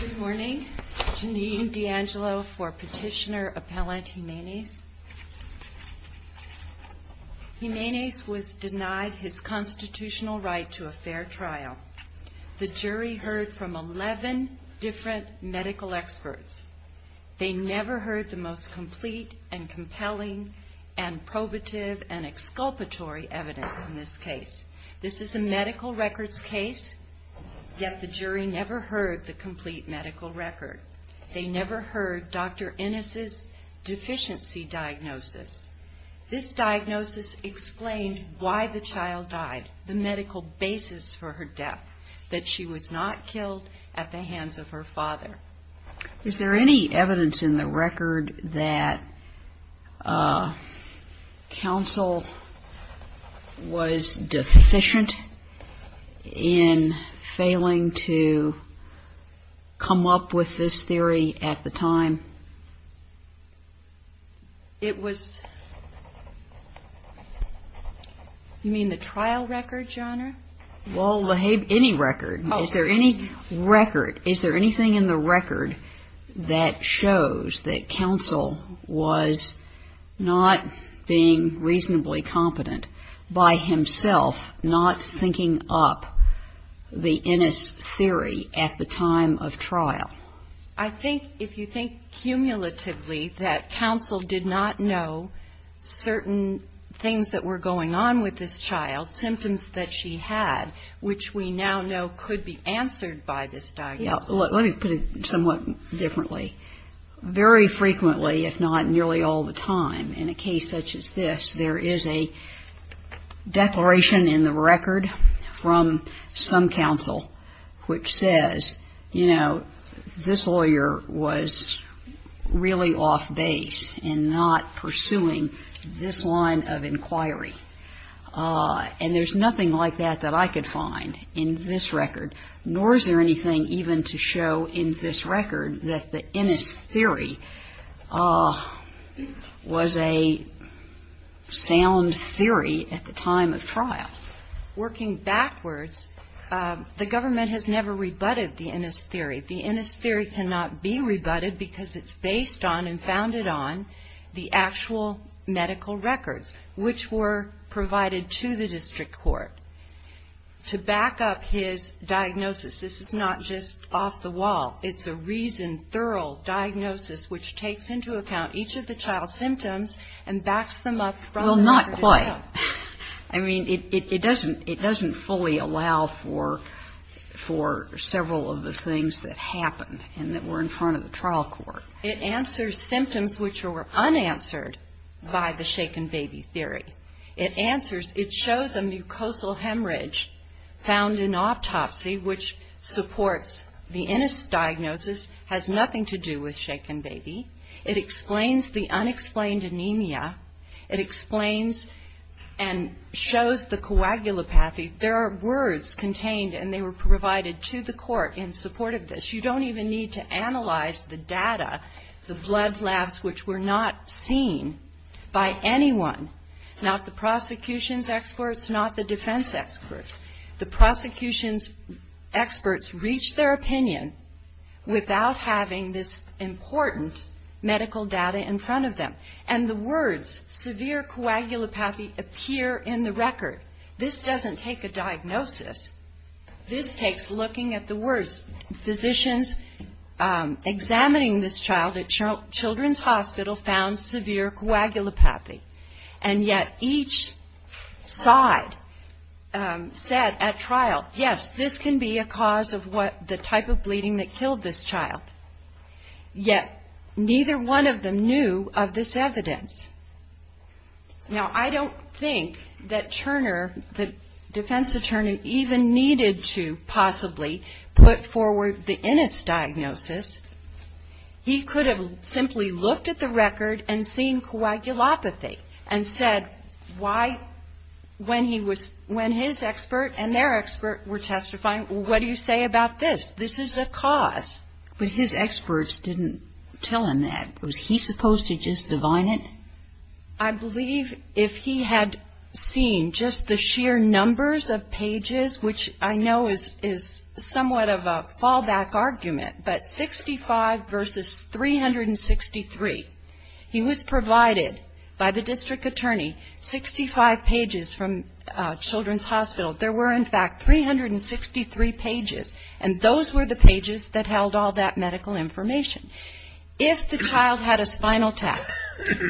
Good morning. Jeanine D'Angelo for Petitioner Appellant, Gimenez. Gimenez was denied his constitutional right to a fair trial. The jury heard from 11 different medical experts. They never heard the most complete and compelling and probative and exculpatory evidence. In this case, this jury never heard the complete medical record. They never heard Dr. Ennis' deficiency diagnosis. This diagnosis explained why the child died, the medical basis for her death, that she was not killed at the hands of her father. Is there any evidence in the record that counsel was deficient in failing to come up with this theory at the time? It was, you mean the trial record, Your Honor? Well, any record. Is there any record, is there anything in the record that shows that counsel was not being reasonably competent by himself not thinking up the Ennis theory at the time of trial? I think, if you think cumulatively, that counsel did not know certain things that were going on with this child, symptoms that she had, which we now know could be answered by this diagnosis. Let me put it somewhat differently. Very frequently, if not nearly all the time, in a case such as this, there is a declaration in the record from some counsel which says, you know, this lawyer was really off base in not pursuing this line of inquiry. And there's nothing like that that I could find in this record, nor is there anything even to show in this record that this theory was a sound theory at the time of trial. Working backwards, the government has never rebutted the Ennis theory. The Ennis theory cannot be rebutted because it's based on and founded on the actual medical records which were provided to the district court. To back up his diagnosis, which takes into account each of the child's symptoms and backs them up from the record itself. Well, not quite. I mean, it doesn't fully allow for several of the things that happen and that were in front of the trial court. It answers symptoms which were unanswered by the shaken baby theory. It answers ‑‑ it shows a mucosal hemorrhage found in autopsy which supports the Ennis diagnosis, has nothing to do with shaken baby. It explains the unexplained anemia. It explains and shows the coagulopathy. There are words contained and they were provided to the court in support of this. You don't even need to analyze the data, the blood labs which were not seen by anyone, not the prosecution's experts, not the defense experts. The prosecution's experts reached their opinion without having this important medical data in front of them. And the words severe coagulopathy appear in the record. This doesn't take a diagnosis. This takes looking at the words. Physicians examining this child at Children's Hospital found severe coagulopathy. And yet each side said at trial, yes, this can be a cause of the type of bleeding that killed this child. Yet neither one of them knew of this evidence. Now, I don't think that Turner, the defense attorney, even needed to possibly put forward the Ennis diagnosis. He could have simply looked at the record and seen coagulopathy and said, when his expert and their expert were testifying, what do you say about this? This is a cause. But his experts didn't tell him that. Was he supposed to just divine it? I believe if he had seen just the sheer numbers of pages, which I know is somewhat of a fallback argument, but 65 versus 363. He was provided by the district attorney, 65 pages from Children's Hospital. There were in fact 363 pages. And those were the pages that held all that medical information. If the child had a spinal tap,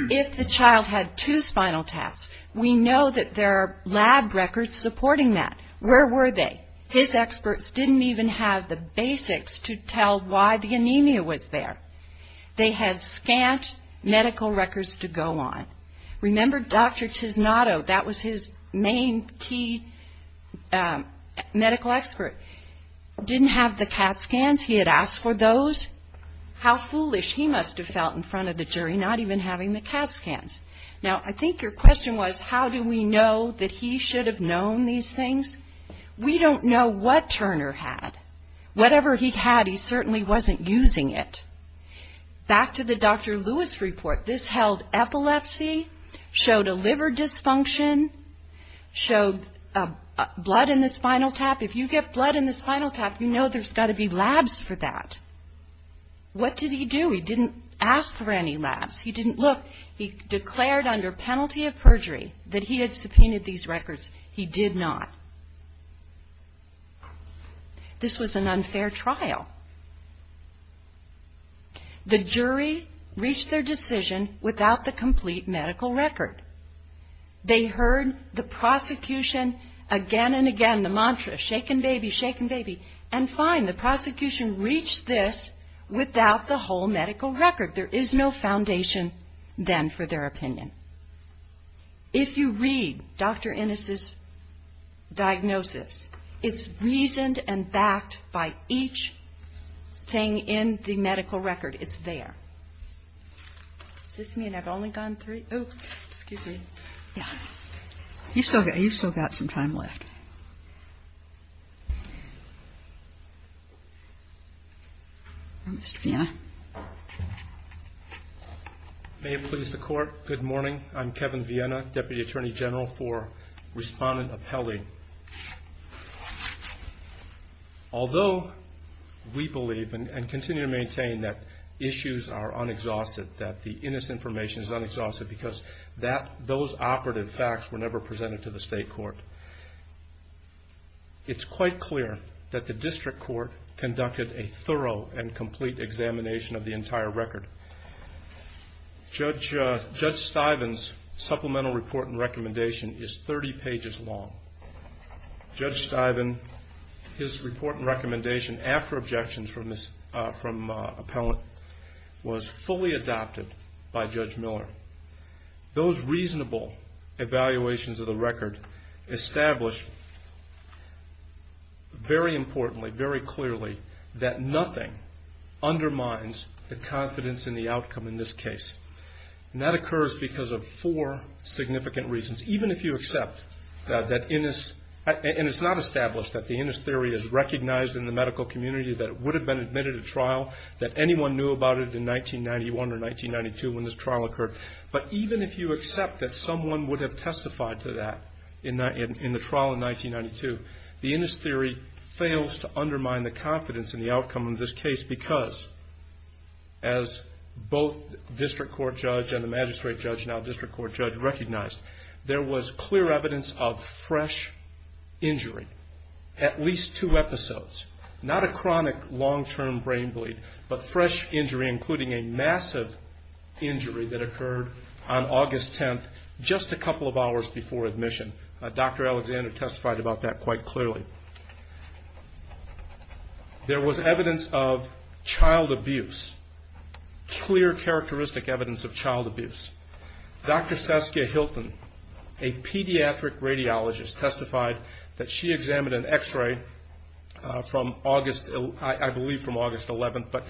if the child had two spinal taps, we know that there are lab records supporting that. Where were they? His experts didn't even have the basics to tell why the anemia was there. They had scant medical records to go on. Remember Dr. Tisnotto, that was his main key medical expert, didn't have the CAT scans. He had asked for those. How foolish. He must have felt in front of the jury not even having the CAT scans. Now, I think your question was, how do we know that he should have known these things? We don't know what Turner had. Whatever he had, he certainly wasn't using it. Back to the Dr. Lewis report, this held epilepsy, showed a liver dysfunction, showed blood in the spinal tap. If you get blood in the spinal tap, you know there's got to be labs for that. What did he do? He didn't ask for any labs. He didn't look. He declared under penalty of perjury that he had epilepsy. The jury reached their decision without the complete medical record. They heard the prosecution again and again, the mantra, shaken baby, shaken baby, and fine, the prosecution reached this without the whole medical record. There is no foundation then for their opinion. If you read Dr. Innis's report, it's in the medical record. It's there. Is this me, and I've only gone three? Oh, excuse me. Yeah. You've still got some time left. Mr. Viena. May it please the Court, good morning. I'm Kevin Viena, Deputy Attorney General for Respondent Epele. Although we believe and continue to maintain that issues are unexhausted, that the Innis information is unexhausted because those operative facts were never presented to the state court, it's quite clear that the district court conducted a thorough and complete examination of the entire record. Judge Stiven's supplemental report and recommendation is 30 pages long. Judge Stiven, his report and recommendation, after objections from appellant, was fully adopted by Judge Miller. Those reasonable evaluations of the record established very importantly, very clearly, that nothing undermines the confidence in the outcome in this case. That occurs because of four significant reasons. Even if you accept that Innis, and it's not established that the Innis theory is recognized in the medical community, that it would have been admitted at trial, that anyone knew about it in 1991 or 1992 when this trial occurred, but even if you accept that someone would have testified to that in the trial in 1992, the Innis theory fails to undermine the confidence in the Innis theory as both district court judge and the magistrate judge, now district court judge, recognized. There was clear evidence of fresh injury, at least two episodes. Not a chronic long-term brain bleed, but fresh injury, including a massive injury that occurred on August 10th, just a couple of hours before admission. Dr. Alexander testified about that quite clearly. There was evidence of clear characteristic evidence of child abuse. Dr. Saskia Hilton, a pediatric radiologist, testified that she examined an x-ray from August, I believe from August 11th, but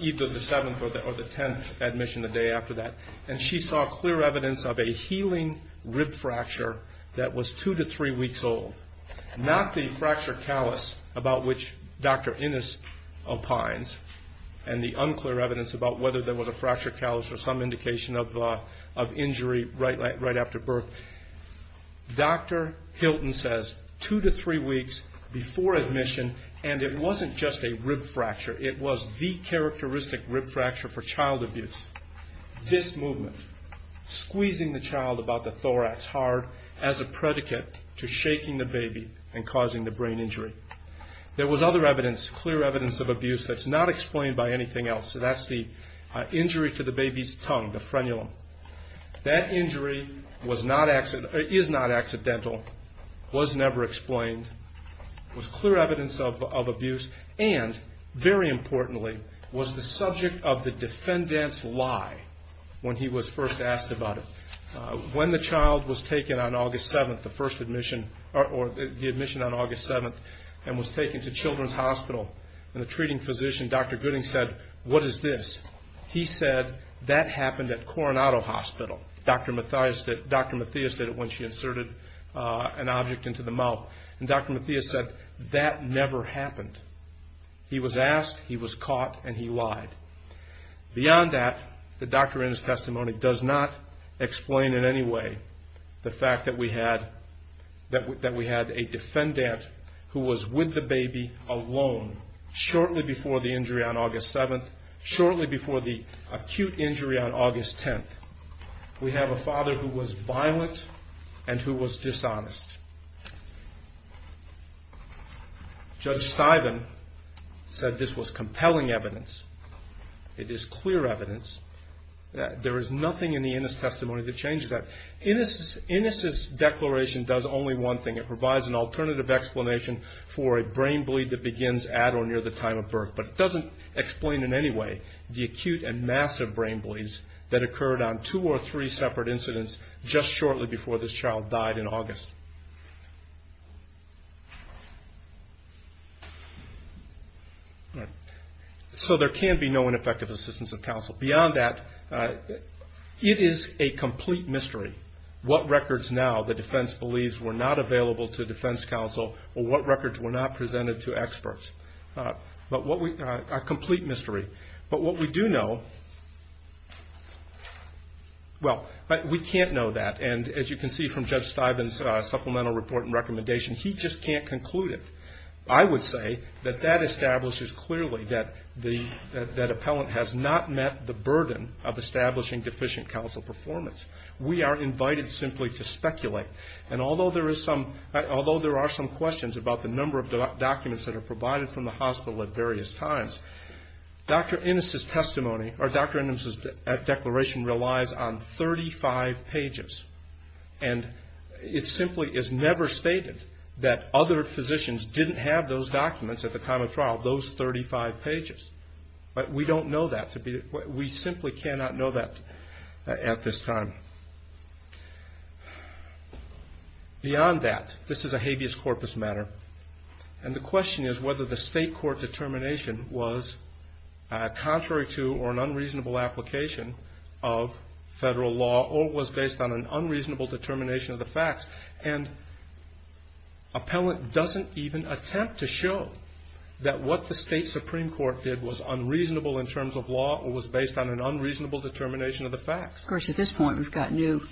either the 7th or the 10th admission a day after that, and she saw clear evidence of a healing rib fracture that was two to three weeks old. Not the fracture callus about which Dr. Innis opines, and the unclear evidence about whether there was a fracture callus or some indication of injury right after birth. Dr. Hilton says two to three weeks before admission, and it wasn't just a rib fracture. It was the characteristic rib fracture for child abuse. This movement, squeezing the child about the thorax hard as a predicate to shaking the baby and causing the brain injury. There was other evidence, clear evidence of injury to the baby's tongue, the frenulum. That injury is not accidental, was never explained, was clear evidence of abuse, and very importantly, was the subject of the defendant's lie when he was first asked about it. When the child was taken on August 7th, the first admission, or the admission on August 7th, and was taken to the hospital, he said that happened at Coronado Hospital. Dr. Mathias did it when she inserted an object into the mouth, and Dr. Mathias said that never happened. He was asked, he was caught, and he lied. Beyond that, the Dr. Innis testimony does not explain in any way the fact that we had a defendant who was with the child for the acute injury on August 10th. We have a father who was violent and who was dishonest. Judge Stiven said this was compelling evidence. It is clear evidence. There is nothing in the Innis testimony that changes that. Innis's declaration does only one thing. It provides an alternative explanation for a brain bleed that begins at or near the time of birth, but it doesn't explain in any way the acute and massive brain bleeds that occurred on two or three separate incidents just shortly before this child died in August. So there can be no ineffective assistance of counsel. Beyond that, it is a complete mystery what records now the defense believes were not available to defense counsel or what records were not presented to experts. A complete mystery. But what we do know, well, we can't know that. And as you can see from Judge Stiven's supplemental report and recommendation, he just can't conclude it. I would say that that establishes clearly that the, that appellant has not met the burden of establishing deficient counsel performance. We are invited simply to speculate. And although there is some, although there are some questions about the number of documents that are available, Dr. Innis's testimony or Dr. Innis's declaration relies on 35 pages. And it simply is never stated that other physicians didn't have those documents at the time of trial, those 35 pages. But we don't know that to be, we simply cannot know that at this time. Beyond that, this is a habeas corpus matter. And the question is whether the case was based on an unreasonable determination of the facts contrary to or an unreasonable application of Federal law or was based on an unreasonable determination of the facts. And appellant doesn't even attempt to show that what the State Supreme Court did was unreasonable in terms of law or was based on an unreasonable determination of the facts. Of course, at this point, we've got new,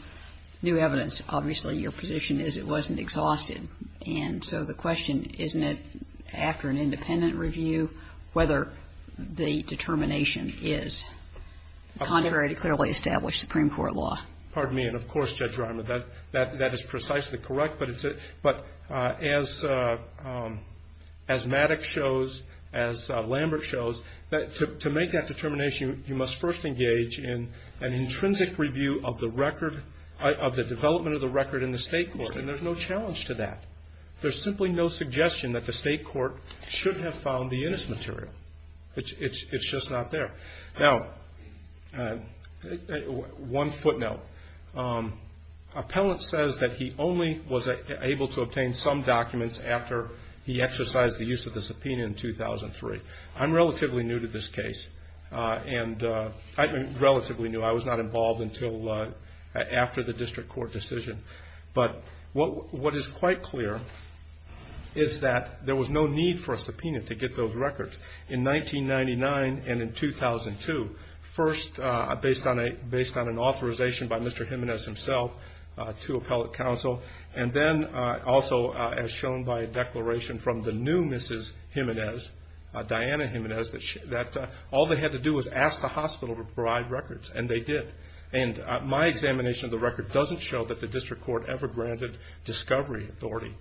new evidence. Obviously, your position is it wasn't exhausted. And so the question, isn't it, after an independent review, whether the determination is contrary to clearly established Supreme Court law? Pardon me. And of course, Judge Reimer, that, that is precisely correct. But as Maddox shows, as Lambert shows, to make that determination, you must first engage in an intrinsic review of the record, of the development of the record in the State Court. And there's no challenge to that. There's simply no suggestion that the State Court should have found the innest material. It's, it's, it's just not there. Now, one footnote. Appellant says that he only was able to obtain some documents after he exercised the use of the subpoena in 2003. I'm relatively new to this case. And I, relatively new. I was not involved until after the district court decision. But what, what is quite clear is that there was no need for a subpoena to get those records in 1999 and in 2002. First, based on a, based on an authorization by Mr. Jimenez himself to appellate counsel. And then also, as shown by a declaration from the new Mrs. Jimenez, Diana Jimenez, that all they had to do was ask the hospital to provide records. And they did. And my examination of the record doesn't show that the district court ever granted discovery authority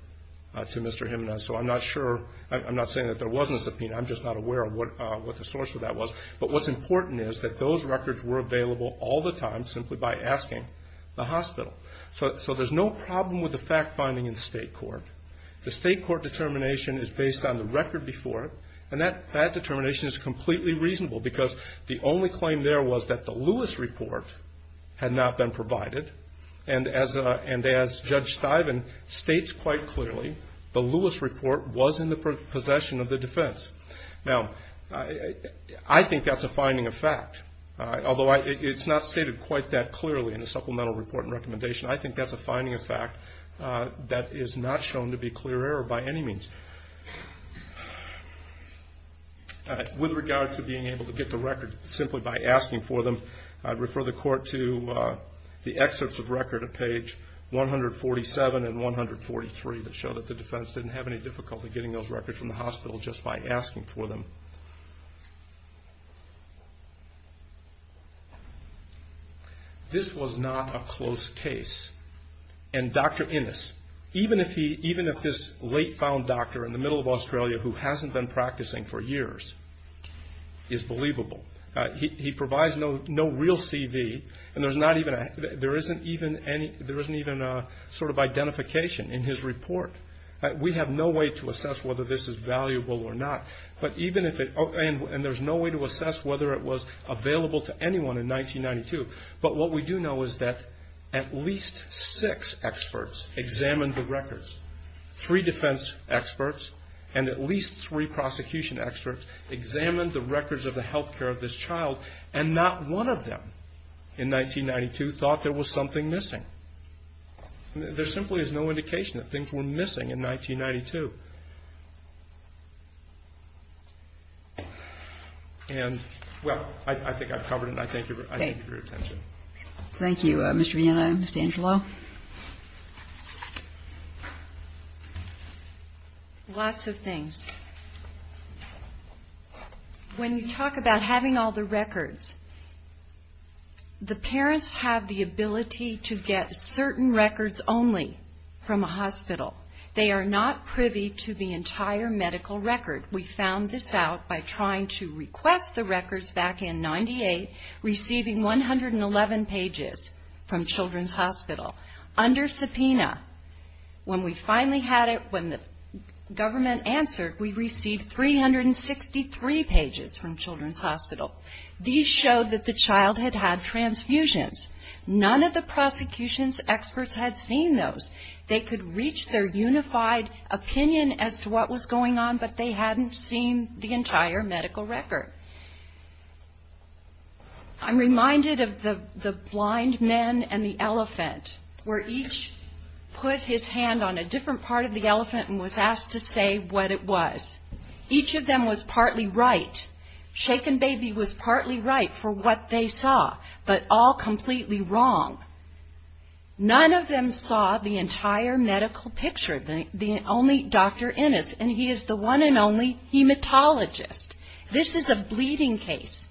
to Mr. Jimenez. So I'm not sure, I'm not saying that there wasn't a subpoena. I'm just not aware of what, what the source of that was. But what's important is that those records were available all the time simply by asking the hospital. So, so there's no problem with the fact finding in the case. The state court determination is based on the record before it. And that, that determination is completely reasonable because the only claim there was that the Lewis report had not been provided. And as a, and as Judge Stiven states quite clearly, the Lewis report was in the possession of the defense. Now, I, I think that's a finding of fact. Although I, it's not stated quite that clearly in the supplemental report and recommendation. I think that's a finding of fact that is not shown to be clear error by any means. With regards to being able to get the record simply by asking for them, I'd refer the court to the excerpts of record at page 147 and 143 that show that the defense didn't have any difficulty getting those records from the hospital just by asking for them. This was not a close case. And Dr. Innes, even if he, even if this late found doctor in the middle of Australia who hasn't been practicing for years is believable. He, he provides no, no real CV and there's not even a, there isn't even any, there isn't even a sort of identification in his report. We have no way to assess whether this is valuable or not. But even if it, and there's no way to assess whether it was available to anyone in 1992. But what we do know is that at least six experts examined the records. Three defense experts and at least three prosecution experts examined the records of the health care of this child and not one of them in 1992 thought there was something missing. There simply is no indication that things were missing in 1992. And well, I, I think I've covered it and I thank you for your attention. Thank you, Mr. Vienna and Ms. D'Angelo. Lots of things. When you talk about having all the records, the parents have the They are not privy to the entire medical record. We found this out by trying to request the records back in 98, receiving 111 pages from Children's Hospital under subpoena. When we finally had it, when the government answered, we received 363 pages from Children's Hospital. These showed that the child had transfusions. None of the prosecution's experts had seen those. They could reach their unified opinion as to what was going on, but they hadn't seen the entire medical record. I'm reminded of the blind men and the elephant, where each put his hand on a different part of the elephant and was asked to say what it was. Each of them was partly right. Shaken Baby was partly right for what they saw, but all completely wrong. None of them saw the entire medical picture. The only Dr. Innes, and he is the one and only hematologist. This is a bleeding case.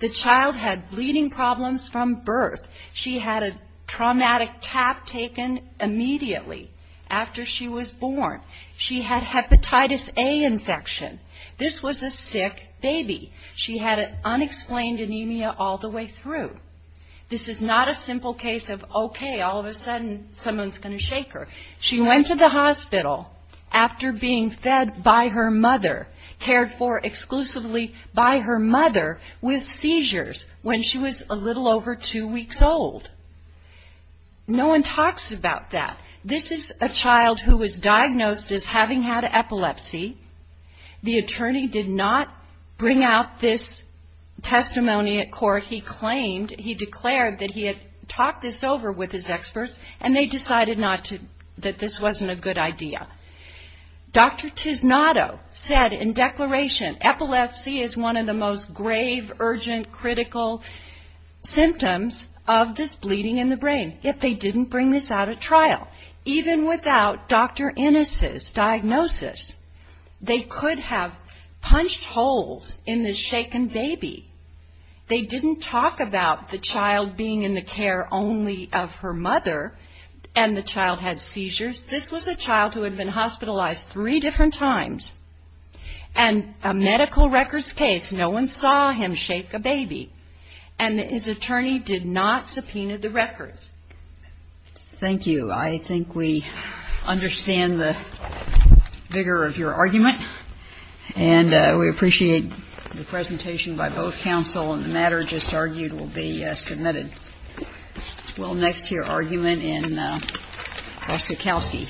The child had bleeding problems from birth. She had a traumatic tap taken immediately after she was born. She had hepatitis A infection. This was a sick baby. She had unexplained anemia all the way through. This is not a simple case of, okay, all of a sudden someone's going to shake her. She went to the hospital after being fed by her mother, cared for exclusively by her mother with epilepsy. This is a child who was diagnosed as having had epilepsy. The attorney did not bring out this testimony at court. He claimed, he declared that he had talked this over with his experts, and they decided not to, that this wasn't a good idea. Dr. Tisnoto said in declaration, epilepsy is one of the most grave, urgent, critical symptoms of this bleeding in the brain. If they didn't bring this out at trial, even without Dr. Innes' diagnosis, they could have punched holes in this shaken baby. They didn't talk about the child being in the care only of her mother, and the child had seizures. This was a child who had been hospitalized three different times. And a medical records case, no one saw him shake a baby. And his attorney did not subpoena the case. Thank you. I think we understand the vigor of your argument, and we appreciate the presentation by both counsel, and the matter just argued will be submitted well next to your argument in Ossikowski.